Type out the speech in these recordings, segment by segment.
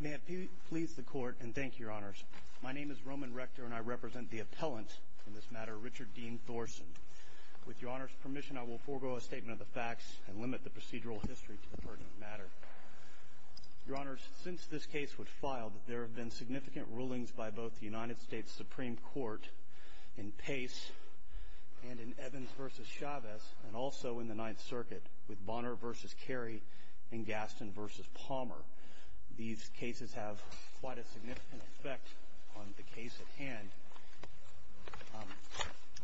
May it please the Court and thank you, Your Honors. My name is Roman Rector and I represent the appellant in this matter, Richard Dean Thorson. With Your Honor's permission, I will forego a statement of the facts and limit the procedural history to the pertinent matter. Your Honors, since this case was filed, there have been significant rulings by both the United States Supreme Court in Pace and in Evans v. Chavez, and also in the Ninth Circuit with Bonner v. Carey and Gaston v. Palmer. These cases have quite a significant effect on the case at hand,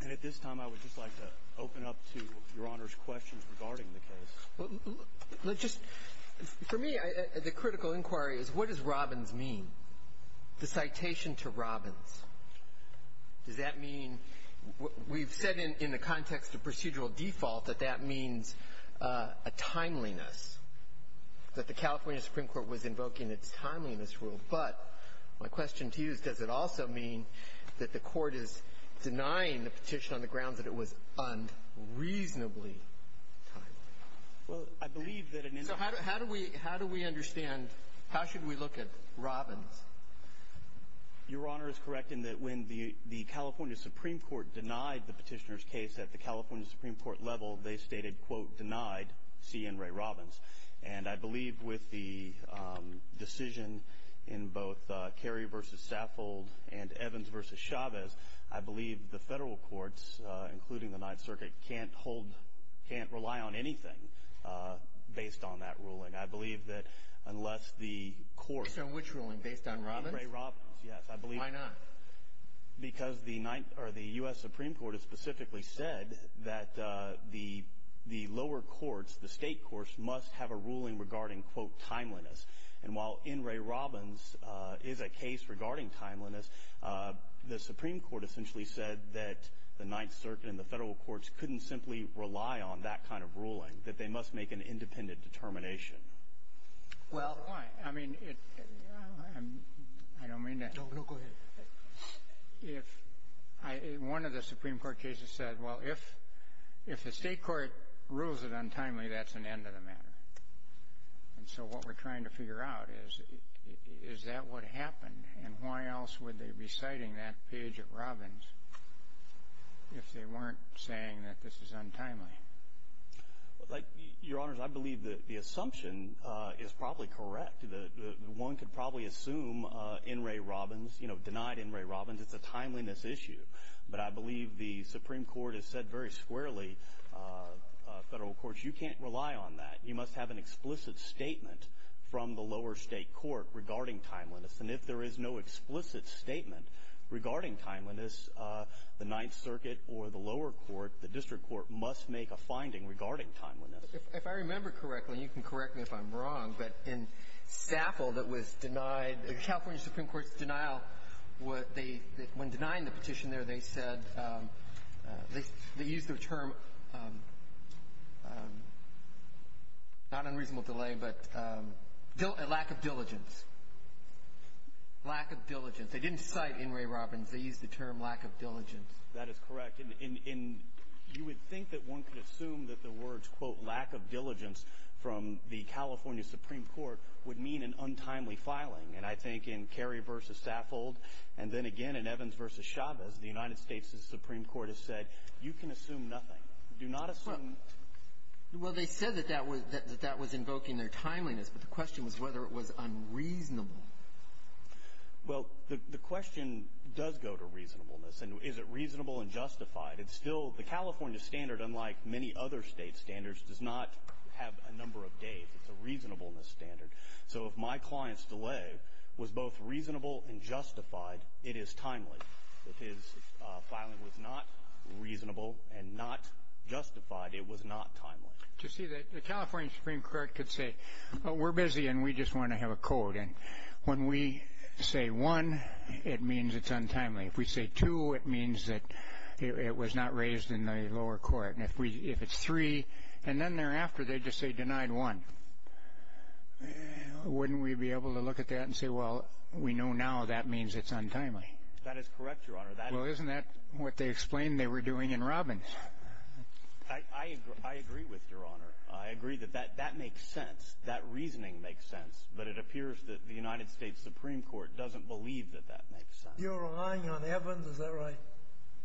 and at this time I would just like to open up to Your Honor's questions regarding the case. For me, the critical inquiry is what does Robbins mean? The citation to Robbins, does that mean, we've said in the context of procedural default that that means a timeliness, that the California Supreme Court was invoking a timeliness rule, but my question to you is does it also mean that the Court is denying the petition on the grounds that it was unreasonably timed? Well, I believe that an individual... So how do we understand, how should we look at Robbins? Your Honor is correct in that when the California Supreme Court denied the petitioner's case at the California Supreme Court level, they stated, quote, denied C. Enray Robbins. And I believe with the decision in both Carey v. Saffold and Evans v. Chavez, I believe the Federal Courts, including the Ninth Circuit, can't hold, can't rely on anything based on that ruling. I believe that unless the Court... Based on which ruling? Based on Robbins? Enray Robbins, yes. I believe... Why not? Because the Ninth, or the U.S. Supreme Court has specifically said that the lower courts, the state courts, must have a ruling regarding, quote, timeliness. And while Enray Robbins is a case regarding timeliness, the Supreme Court essentially said that the Ninth Circuit and the Federal Courts couldn't simply rely on that kind of ruling, that they must make an independent determination. Well... Why? I mean, it... I don't mean to... No, no, go ahead. If... One of the Supreme Court cases said, well, if the state court rules it untimely, that's an end of the matter. And so what we're trying to figure out is, is that what happened? And why else would they be citing that page at Robbins if they weren't saying that this is untimely? Like, Your Honors, I believe that the assumption is probably correct. One could probably assume Enray Robbins, you know, denied Enray Robbins, it's a timeliness issue. But I believe the Supreme Court has said very squarely, Federal Courts, you can't rely on that. You must have an explicit statement from the lower state court regarding timeliness. And if there is no explicit statement regarding timeliness, the Ninth Circuit or the lower court, the district court, must make a finding regarding timeliness. If I remember correctly, and you can correct me if I'm wrong, but in Staffel that was denied the California Supreme Court's denial, when denying the petition there, they said, they used the term, not unreasonable delay, but lack of diligence. Lack of diligence. They didn't cite Enray Robbins. They used the term lack of diligence. That is correct. And you would think that one could assume that the words, quote, lack of diligence from the California Supreme Court would mean an untimely filing. And I think in Kerry versus Staffold, and then again in Evans versus Chavez, the United States does not assume nothing. Do not assume that. Well, they said that that was invoking their timeliness, but the question was whether it was unreasonable. Well, the question does go to reasonableness. And is it reasonable and justified? It's still the California standard, unlike many other state standards, does not have a number of days. It's a reasonableness standard. So if my client's delay was both reasonable and justified, it is timely. But if his filing was not reasonable and not justified, it was not timely. You see, the California Supreme Court could say, we're busy and we just want to have a code. And when we say one, it means it's untimely. If we say two, it means that it was not raised in the lower court. And if it's three, and then thereafter they just say denied one, wouldn't we be able to look at that and say, well, we know now that means it's untimely? That is correct, Your Honor. Well, isn't that what they explained they were doing in Robbins? I agree with Your Honor. I agree that that makes sense. That reasoning makes sense. But it appears that the United States Supreme Court doesn't believe that that makes sense. You're relying on Evans. Is that right?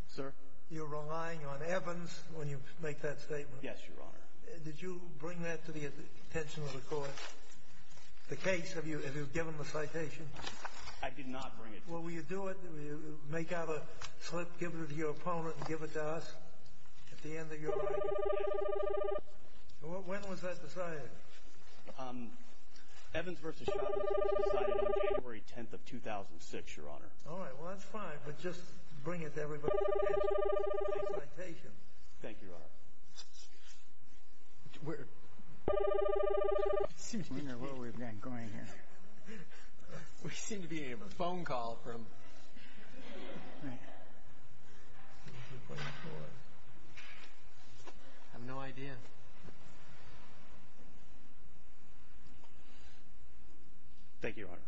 Sir? You're relying on Evans when you make that statement. Yes, Your Honor. Did you bring that to the attention of the court, the case? Have you given the citation? I did not bring it. Well, will you do it? Will you make out a slip, give it to your opponent, and give it to us at the end of your argument? When was that decided? Evans v. Shotton was decided on January 10th of 2006, Your Honor. All right. Well, that's fine. But just bring it to everybody's attention, the citation. Thank you, Your Honor. Where? I wonder where we've been going here. We seem to be getting a phone call from... All right. What's he pointing toward? I have no idea. Thank you, Your Honor.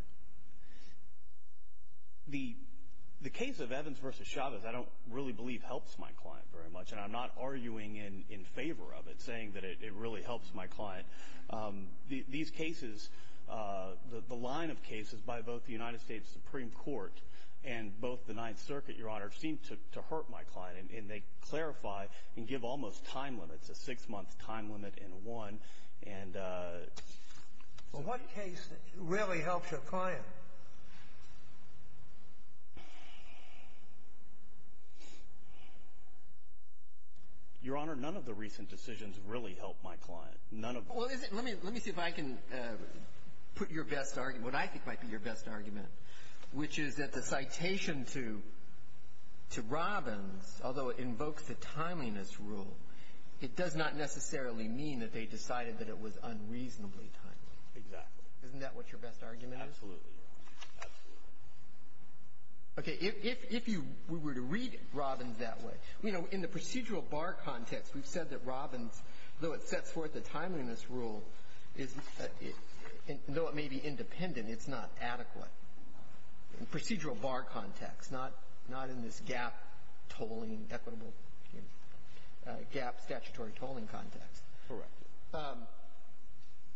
The case of Evans v. Chavez I don't really believe helps my client very much. And I'm not arguing in favor of it, saying that it really helps my client. These cases, the line of cases by both the United States Supreme Court and both the Ninth Circuit, Your Honor, seem to hurt my client. And they clarify and give almost time limits, a six-month time limit and a one. And... Well, what case really helps your client? Your Honor, none of the recent decisions really help my client. None of them. Well, let me see if I can put your best argument, what I think might be your best argument, which is that the citation to Robbins, although it invokes the timeliness rule, it does not necessarily mean that they decided that it was unreasonably timely. Exactly. Isn't that what your best argument is? Absolutely, Your Honor. Absolutely. Okay. If you were to read Robbins that way, you know, in the procedural bar context, we've the timeliness rule is, though it may be independent, it's not adequate in procedural bar context, not in this gap tolling, equitable gap statutory tolling context. Correct.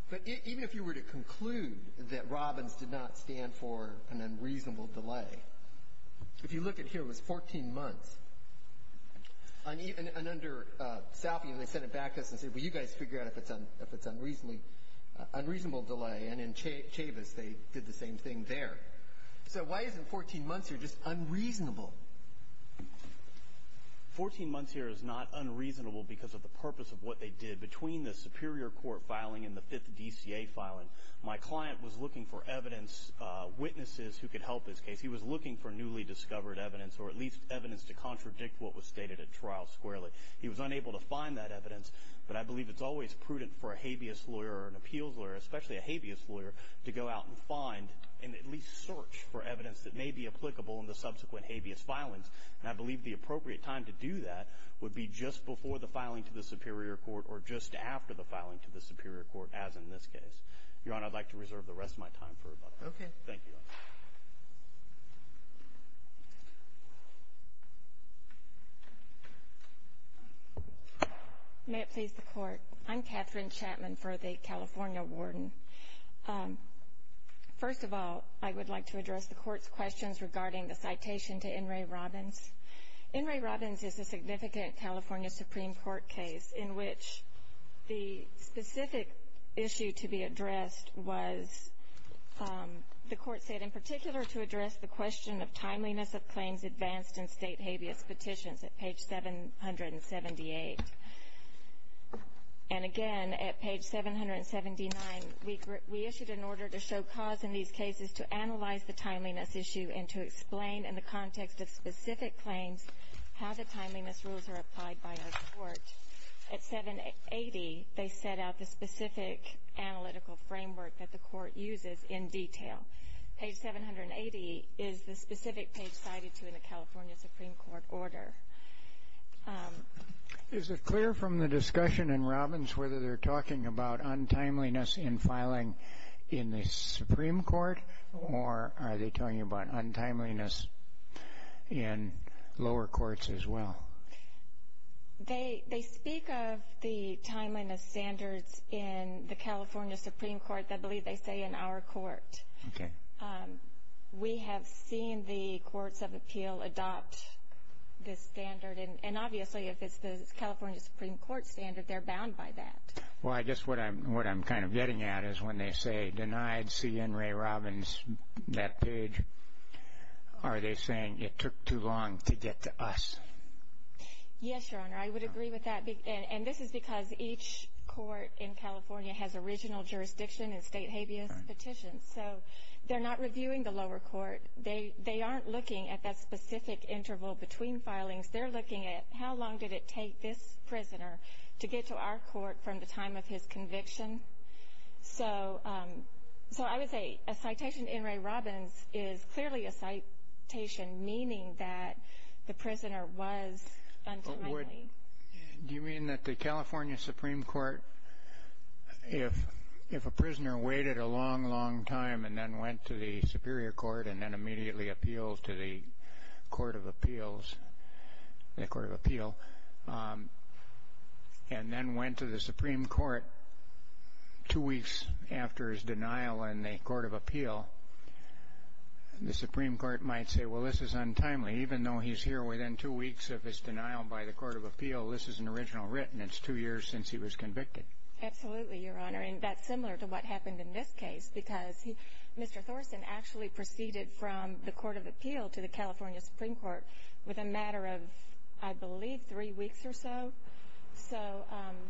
But even if you were to conclude that Robbins did not stand for an unreasonable delay, if you look at here, it was 14 months. And under Salfie, they sent it back to us and said, well, you guys figure out if it's unreasonable delay. And in Chavis, they did the same thing there. So why isn't 14 months here just unreasonable? 14 months here is not unreasonable because of the purpose of what they did between the superior court filing and the fifth DCA filing. My client was looking for evidence, witnesses who could help this case. He was looking for newly discovered evidence or at least evidence to contradict what was stated at trial squarely. He was unable to find that evidence. But I believe it's always prudent for a habeas lawyer or an appeals lawyer, especially a habeas lawyer, to go out and find and at least search for evidence that may be applicable in the subsequent habeas filings. And I believe the appropriate time to do that would be just before the filing to the superior court or just after the filing to the superior court, as in this case. Your Honor, I'd like to reserve the rest of my time for Robbins. Okay. Thank you. May it please the Court. I'm Catherine Chapman for the California Warden. First of all, I would like to address the Court's questions regarding the citation to N. Ray Robbins. N. Ray Robbins is a significant California Supreme Court case in which the specific issue to be addressed was, the Court said, in particular to address the question of timeliness of claims advanced in State habeas petitions at page 778. And again, at page 779, we issued an order to show cause in these cases to analyze the timeliness issue and to explain in the context of specific claims how the timeliness rules are applied by our Court. At 780, they set out the specific analytical framework that the Court uses in detail. Page 780 is the specific page cited to in the California Supreme Court order. Is it clear from the discussion in Robbins whether they're talking about untimeliness in filing in the Supreme Court, or are they talking about untimeliness in lower courts as well? They speak of the timeliness standards in the California Supreme Court that I believe they say in our Court. We have seen the Courts of Appeal adopt this standard. And obviously, if it's the California Supreme Court standard, they're bound by that. Well, I guess what I'm kind of getting at is when they say, denied C. N. Ray Robbins that page, are they saying it took too long to get to us? Yes, Your Honor. I would agree with that. And this is because each court in California has original jurisdiction and state habeas petitions. So they're not reviewing the lower court. They aren't looking at that specific interval between filings. They're looking at how long did it take this prisoner to get to our court from the time of his conviction. So I would say a citation to N. Ray Robbins is clearly a citation meaning that the prisoner was untimely. Do you mean that the California Supreme Court, if a prisoner waited a long, long time and then went to the Superior Court and then immediately appealed to the Court of Appeals, the Court of Appeal, and then went to the Supreme Court two weeks after his denial in the Court of Appeal, the Supreme Court might say, well, this is untimely, even though he's here within two weeks of his denial by the Court of Appeal, this is an original written. It's two years since he was convicted. Absolutely, Your Honor. And that's similar to what happened in this case because Mr. Thorson actually proceeded from the Court of Appeal to the California Supreme Court with a matter of, I believe, three weeks or so. So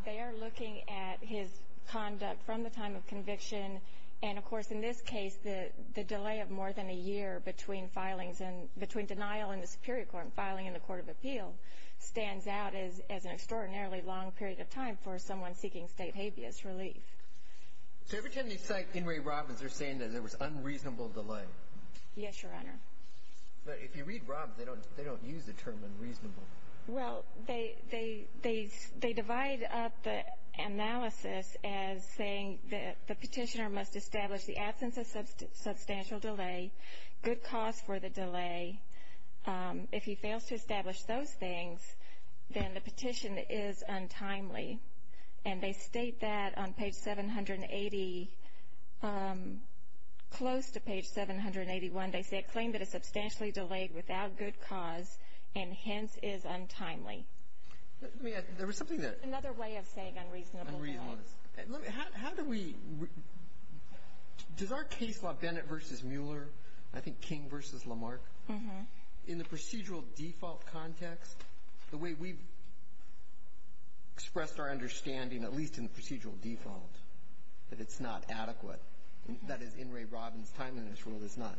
they are looking at his conduct from the time of conviction. And of course, in this case, the delay of more than a year between filings and between denial in the Superior Court and filing in the Court of Appeal stands out as an extraordinarily long period of time for someone seeking state habeas relief. So every time they cite Henry Robbins, they're saying that there was unreasonable delay. Yes, Your Honor. But if you read Robbins, they don't use the term unreasonable. Well, they divide up the analysis as saying that the petitioner must establish the absence of substantial delay, good cause for the delay. If he fails to establish those things, then the petition is untimely. And they state that on page 780, close to page 781, they say a claim that is substantially delayed without good cause and hence is untimely. Let me ask. There was something there. Another way of saying unreasonable. Unreasonable. How do we? Does our case law, Bennett v. Mueller, I think King v. Lamarck, in the procedural default context, the way we've expressed our understanding, at least in the procedural default, that it's not adequate. That is, in Ray Robbins' time in this role, it's not.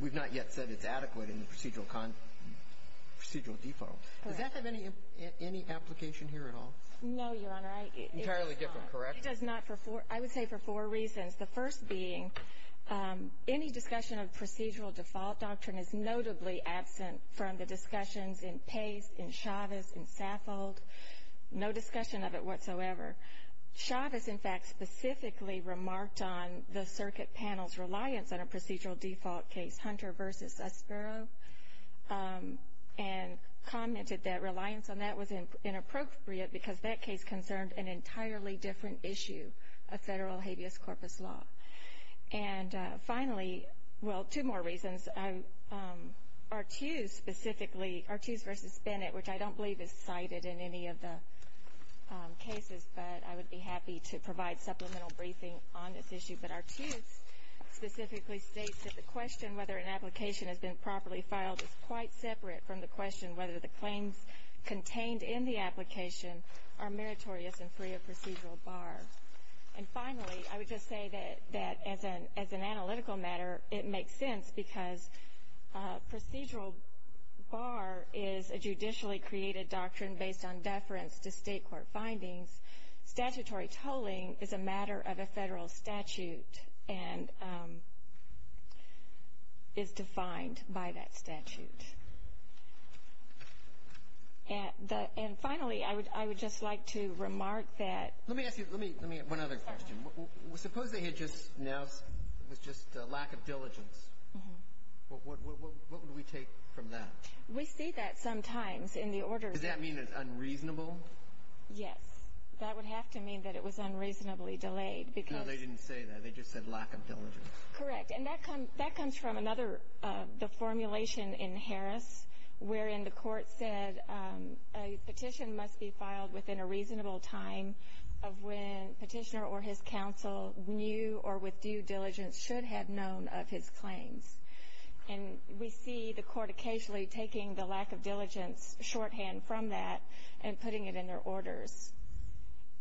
We've not yet said it's adequate in the procedural default. Does that have any application here at all? No, Your Honor. Entirely different, correct? It does not for four. I would say for four reasons. The first being, any discussion of procedural default doctrine is notably absent from the discussions in Pace, in Chavez, in Saffold. No discussion of it whatsoever. Chavez, in fact, specifically remarked on the circuit panel's reliance on a procedural default case, Hunter v. Aspero, and commented that reliance on that was inappropriate because that case concerned an entirely different issue of federal habeas corpus law. And finally, well, two more reasons. Artuse specifically, Artuse v. Bennett, which I don't believe is cited in any of the cases, but I would be happy to provide supplemental briefing on this issue. But Artuse specifically states that the question whether an application has been properly filed is quite separate from the question whether the claims contained in the application are meritorious and free of procedural bar. And finally, I would just say that as an analytical matter, it makes sense because procedural bar is a judicially created doctrine based on deference to state court findings. Statutory tolling is a matter of a federal statute and is defined by that statute. And finally, I would just like to remark that... Let me ask you one other question. Suppose they had just announced it was just a lack of diligence. What would we take from that? We see that sometimes in the orders... Does that mean it's unreasonable? Yes. That would have to mean that it was unreasonably delayed because... No, they didn't say that. They just said lack of diligence. Correct. And that comes from another formulation in Harris wherein the court said a petition must be filed within a reasonable time of when petitioner or his counsel knew or with due diligence should have known of his claims. And we see the court occasionally taking the lack of diligence shorthand from that and putting it in their orders.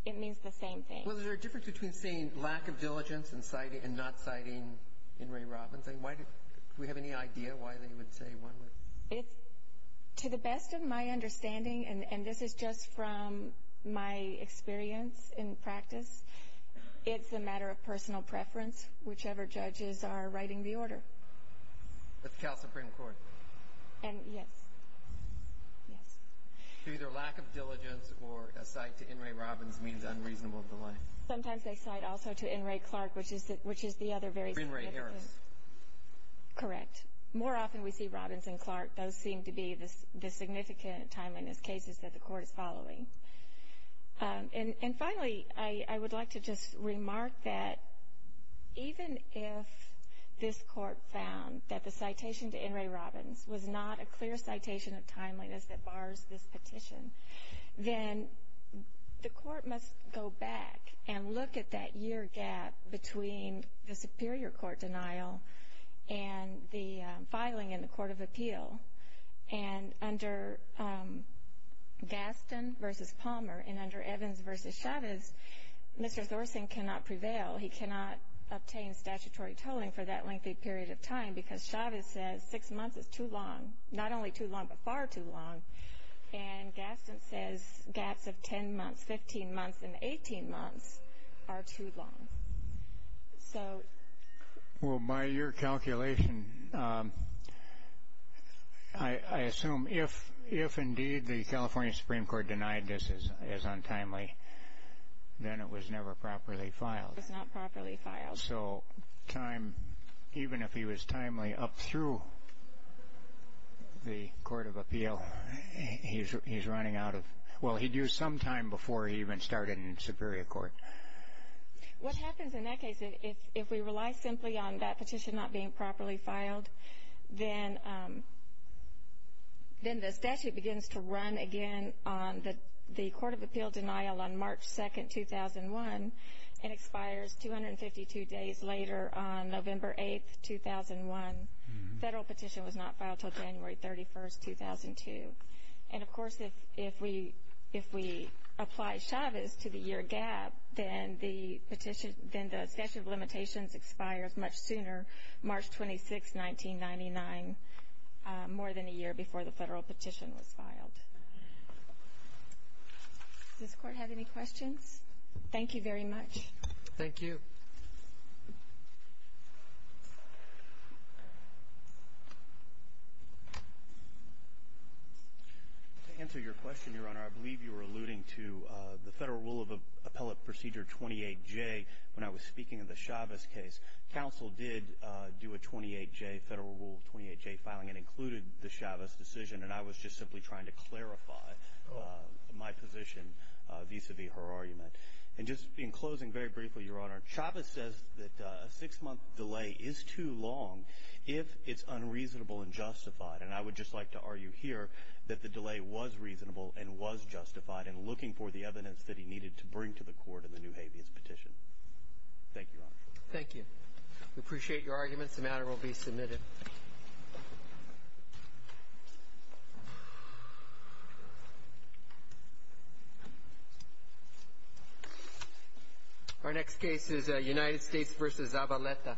It means the same thing. Well, is there a difference between saying lack of diligence and not citing Henry Robbins? And do we have any idea why they would say one would... It's, to the best of my understanding, and this is just from my experience in practice, it's a matter of personal preference, whichever judges are writing the order. That's Cal Supreme Court. And, yes. Yes. So either lack of diligence or a cite to Henry Robbins means unreasonable delay. Sometimes they cite also to Henry Clark, which is the other very significant... Or Henry Harris. Correct. More often we see Robbins and Clark. Those seem to be the significant timeliness cases that the court is following. And finally, I would like to just remark that even if this court found that the citation to Henry Robbins was not a clear citation of timeliness that bars this petition, then the court must go back and look at that year gap between the Superior Court denial and the filing in the Court of Appeal. And under Gaston v. Palmer and under Evans v. Chavez, Mr. Thorsen cannot prevail. He cannot obtain statutory tolling for that lengthy period of time because Chavez says six months is too long. Not only too long, but far too long. And Gaston says gaps of 10 months, 15 months, and 18 months are too long. So... Well, by your calculation, I assume if indeed the California Supreme Court denied this is untimely, then it was never properly filed. It was not properly filed. So time... Even if he was timely up through the Court of Appeal, he's running out of... Well, he'd use some time before he even started in Superior Court. What happens in that case, if we rely simply on that petition not being properly filed, then the statute begins to run again on the Court of Appeal denial on March 2, 2001, and expires 252 days later on November 8, 2001. Federal petition was not filed until January 31, 2002. And of course, if we apply Chavez to the year gap, then the statute of limitations expires much sooner, March 26, 1999, more than a year before the federal petition was filed. Does the Court have any questions? Thank you very much. Thank you. To answer your question, Your Honor, I believe you were alluding to the Federal Rule of Appellate Procedure 28J when I was speaking of the Chavez case. Council did do a 28J, Federal Rule 28J filing, and included the Chavez decision, and I was just simply trying to clarify my position vis-a-vis her argument. And just in closing, very briefly, Your Honor, Chavez says that a six-month delay is too long if it's unreasonable and justified. And I would just like to argue here that the delay was reasonable and was justified in looking for the evidence that he needed to bring to the Court in the new habeas petition. Thank you, Your Honor. Thank you. We appreciate your arguments. The matter will be submitted. Thank you. Our next case is United States v. Zabaleta.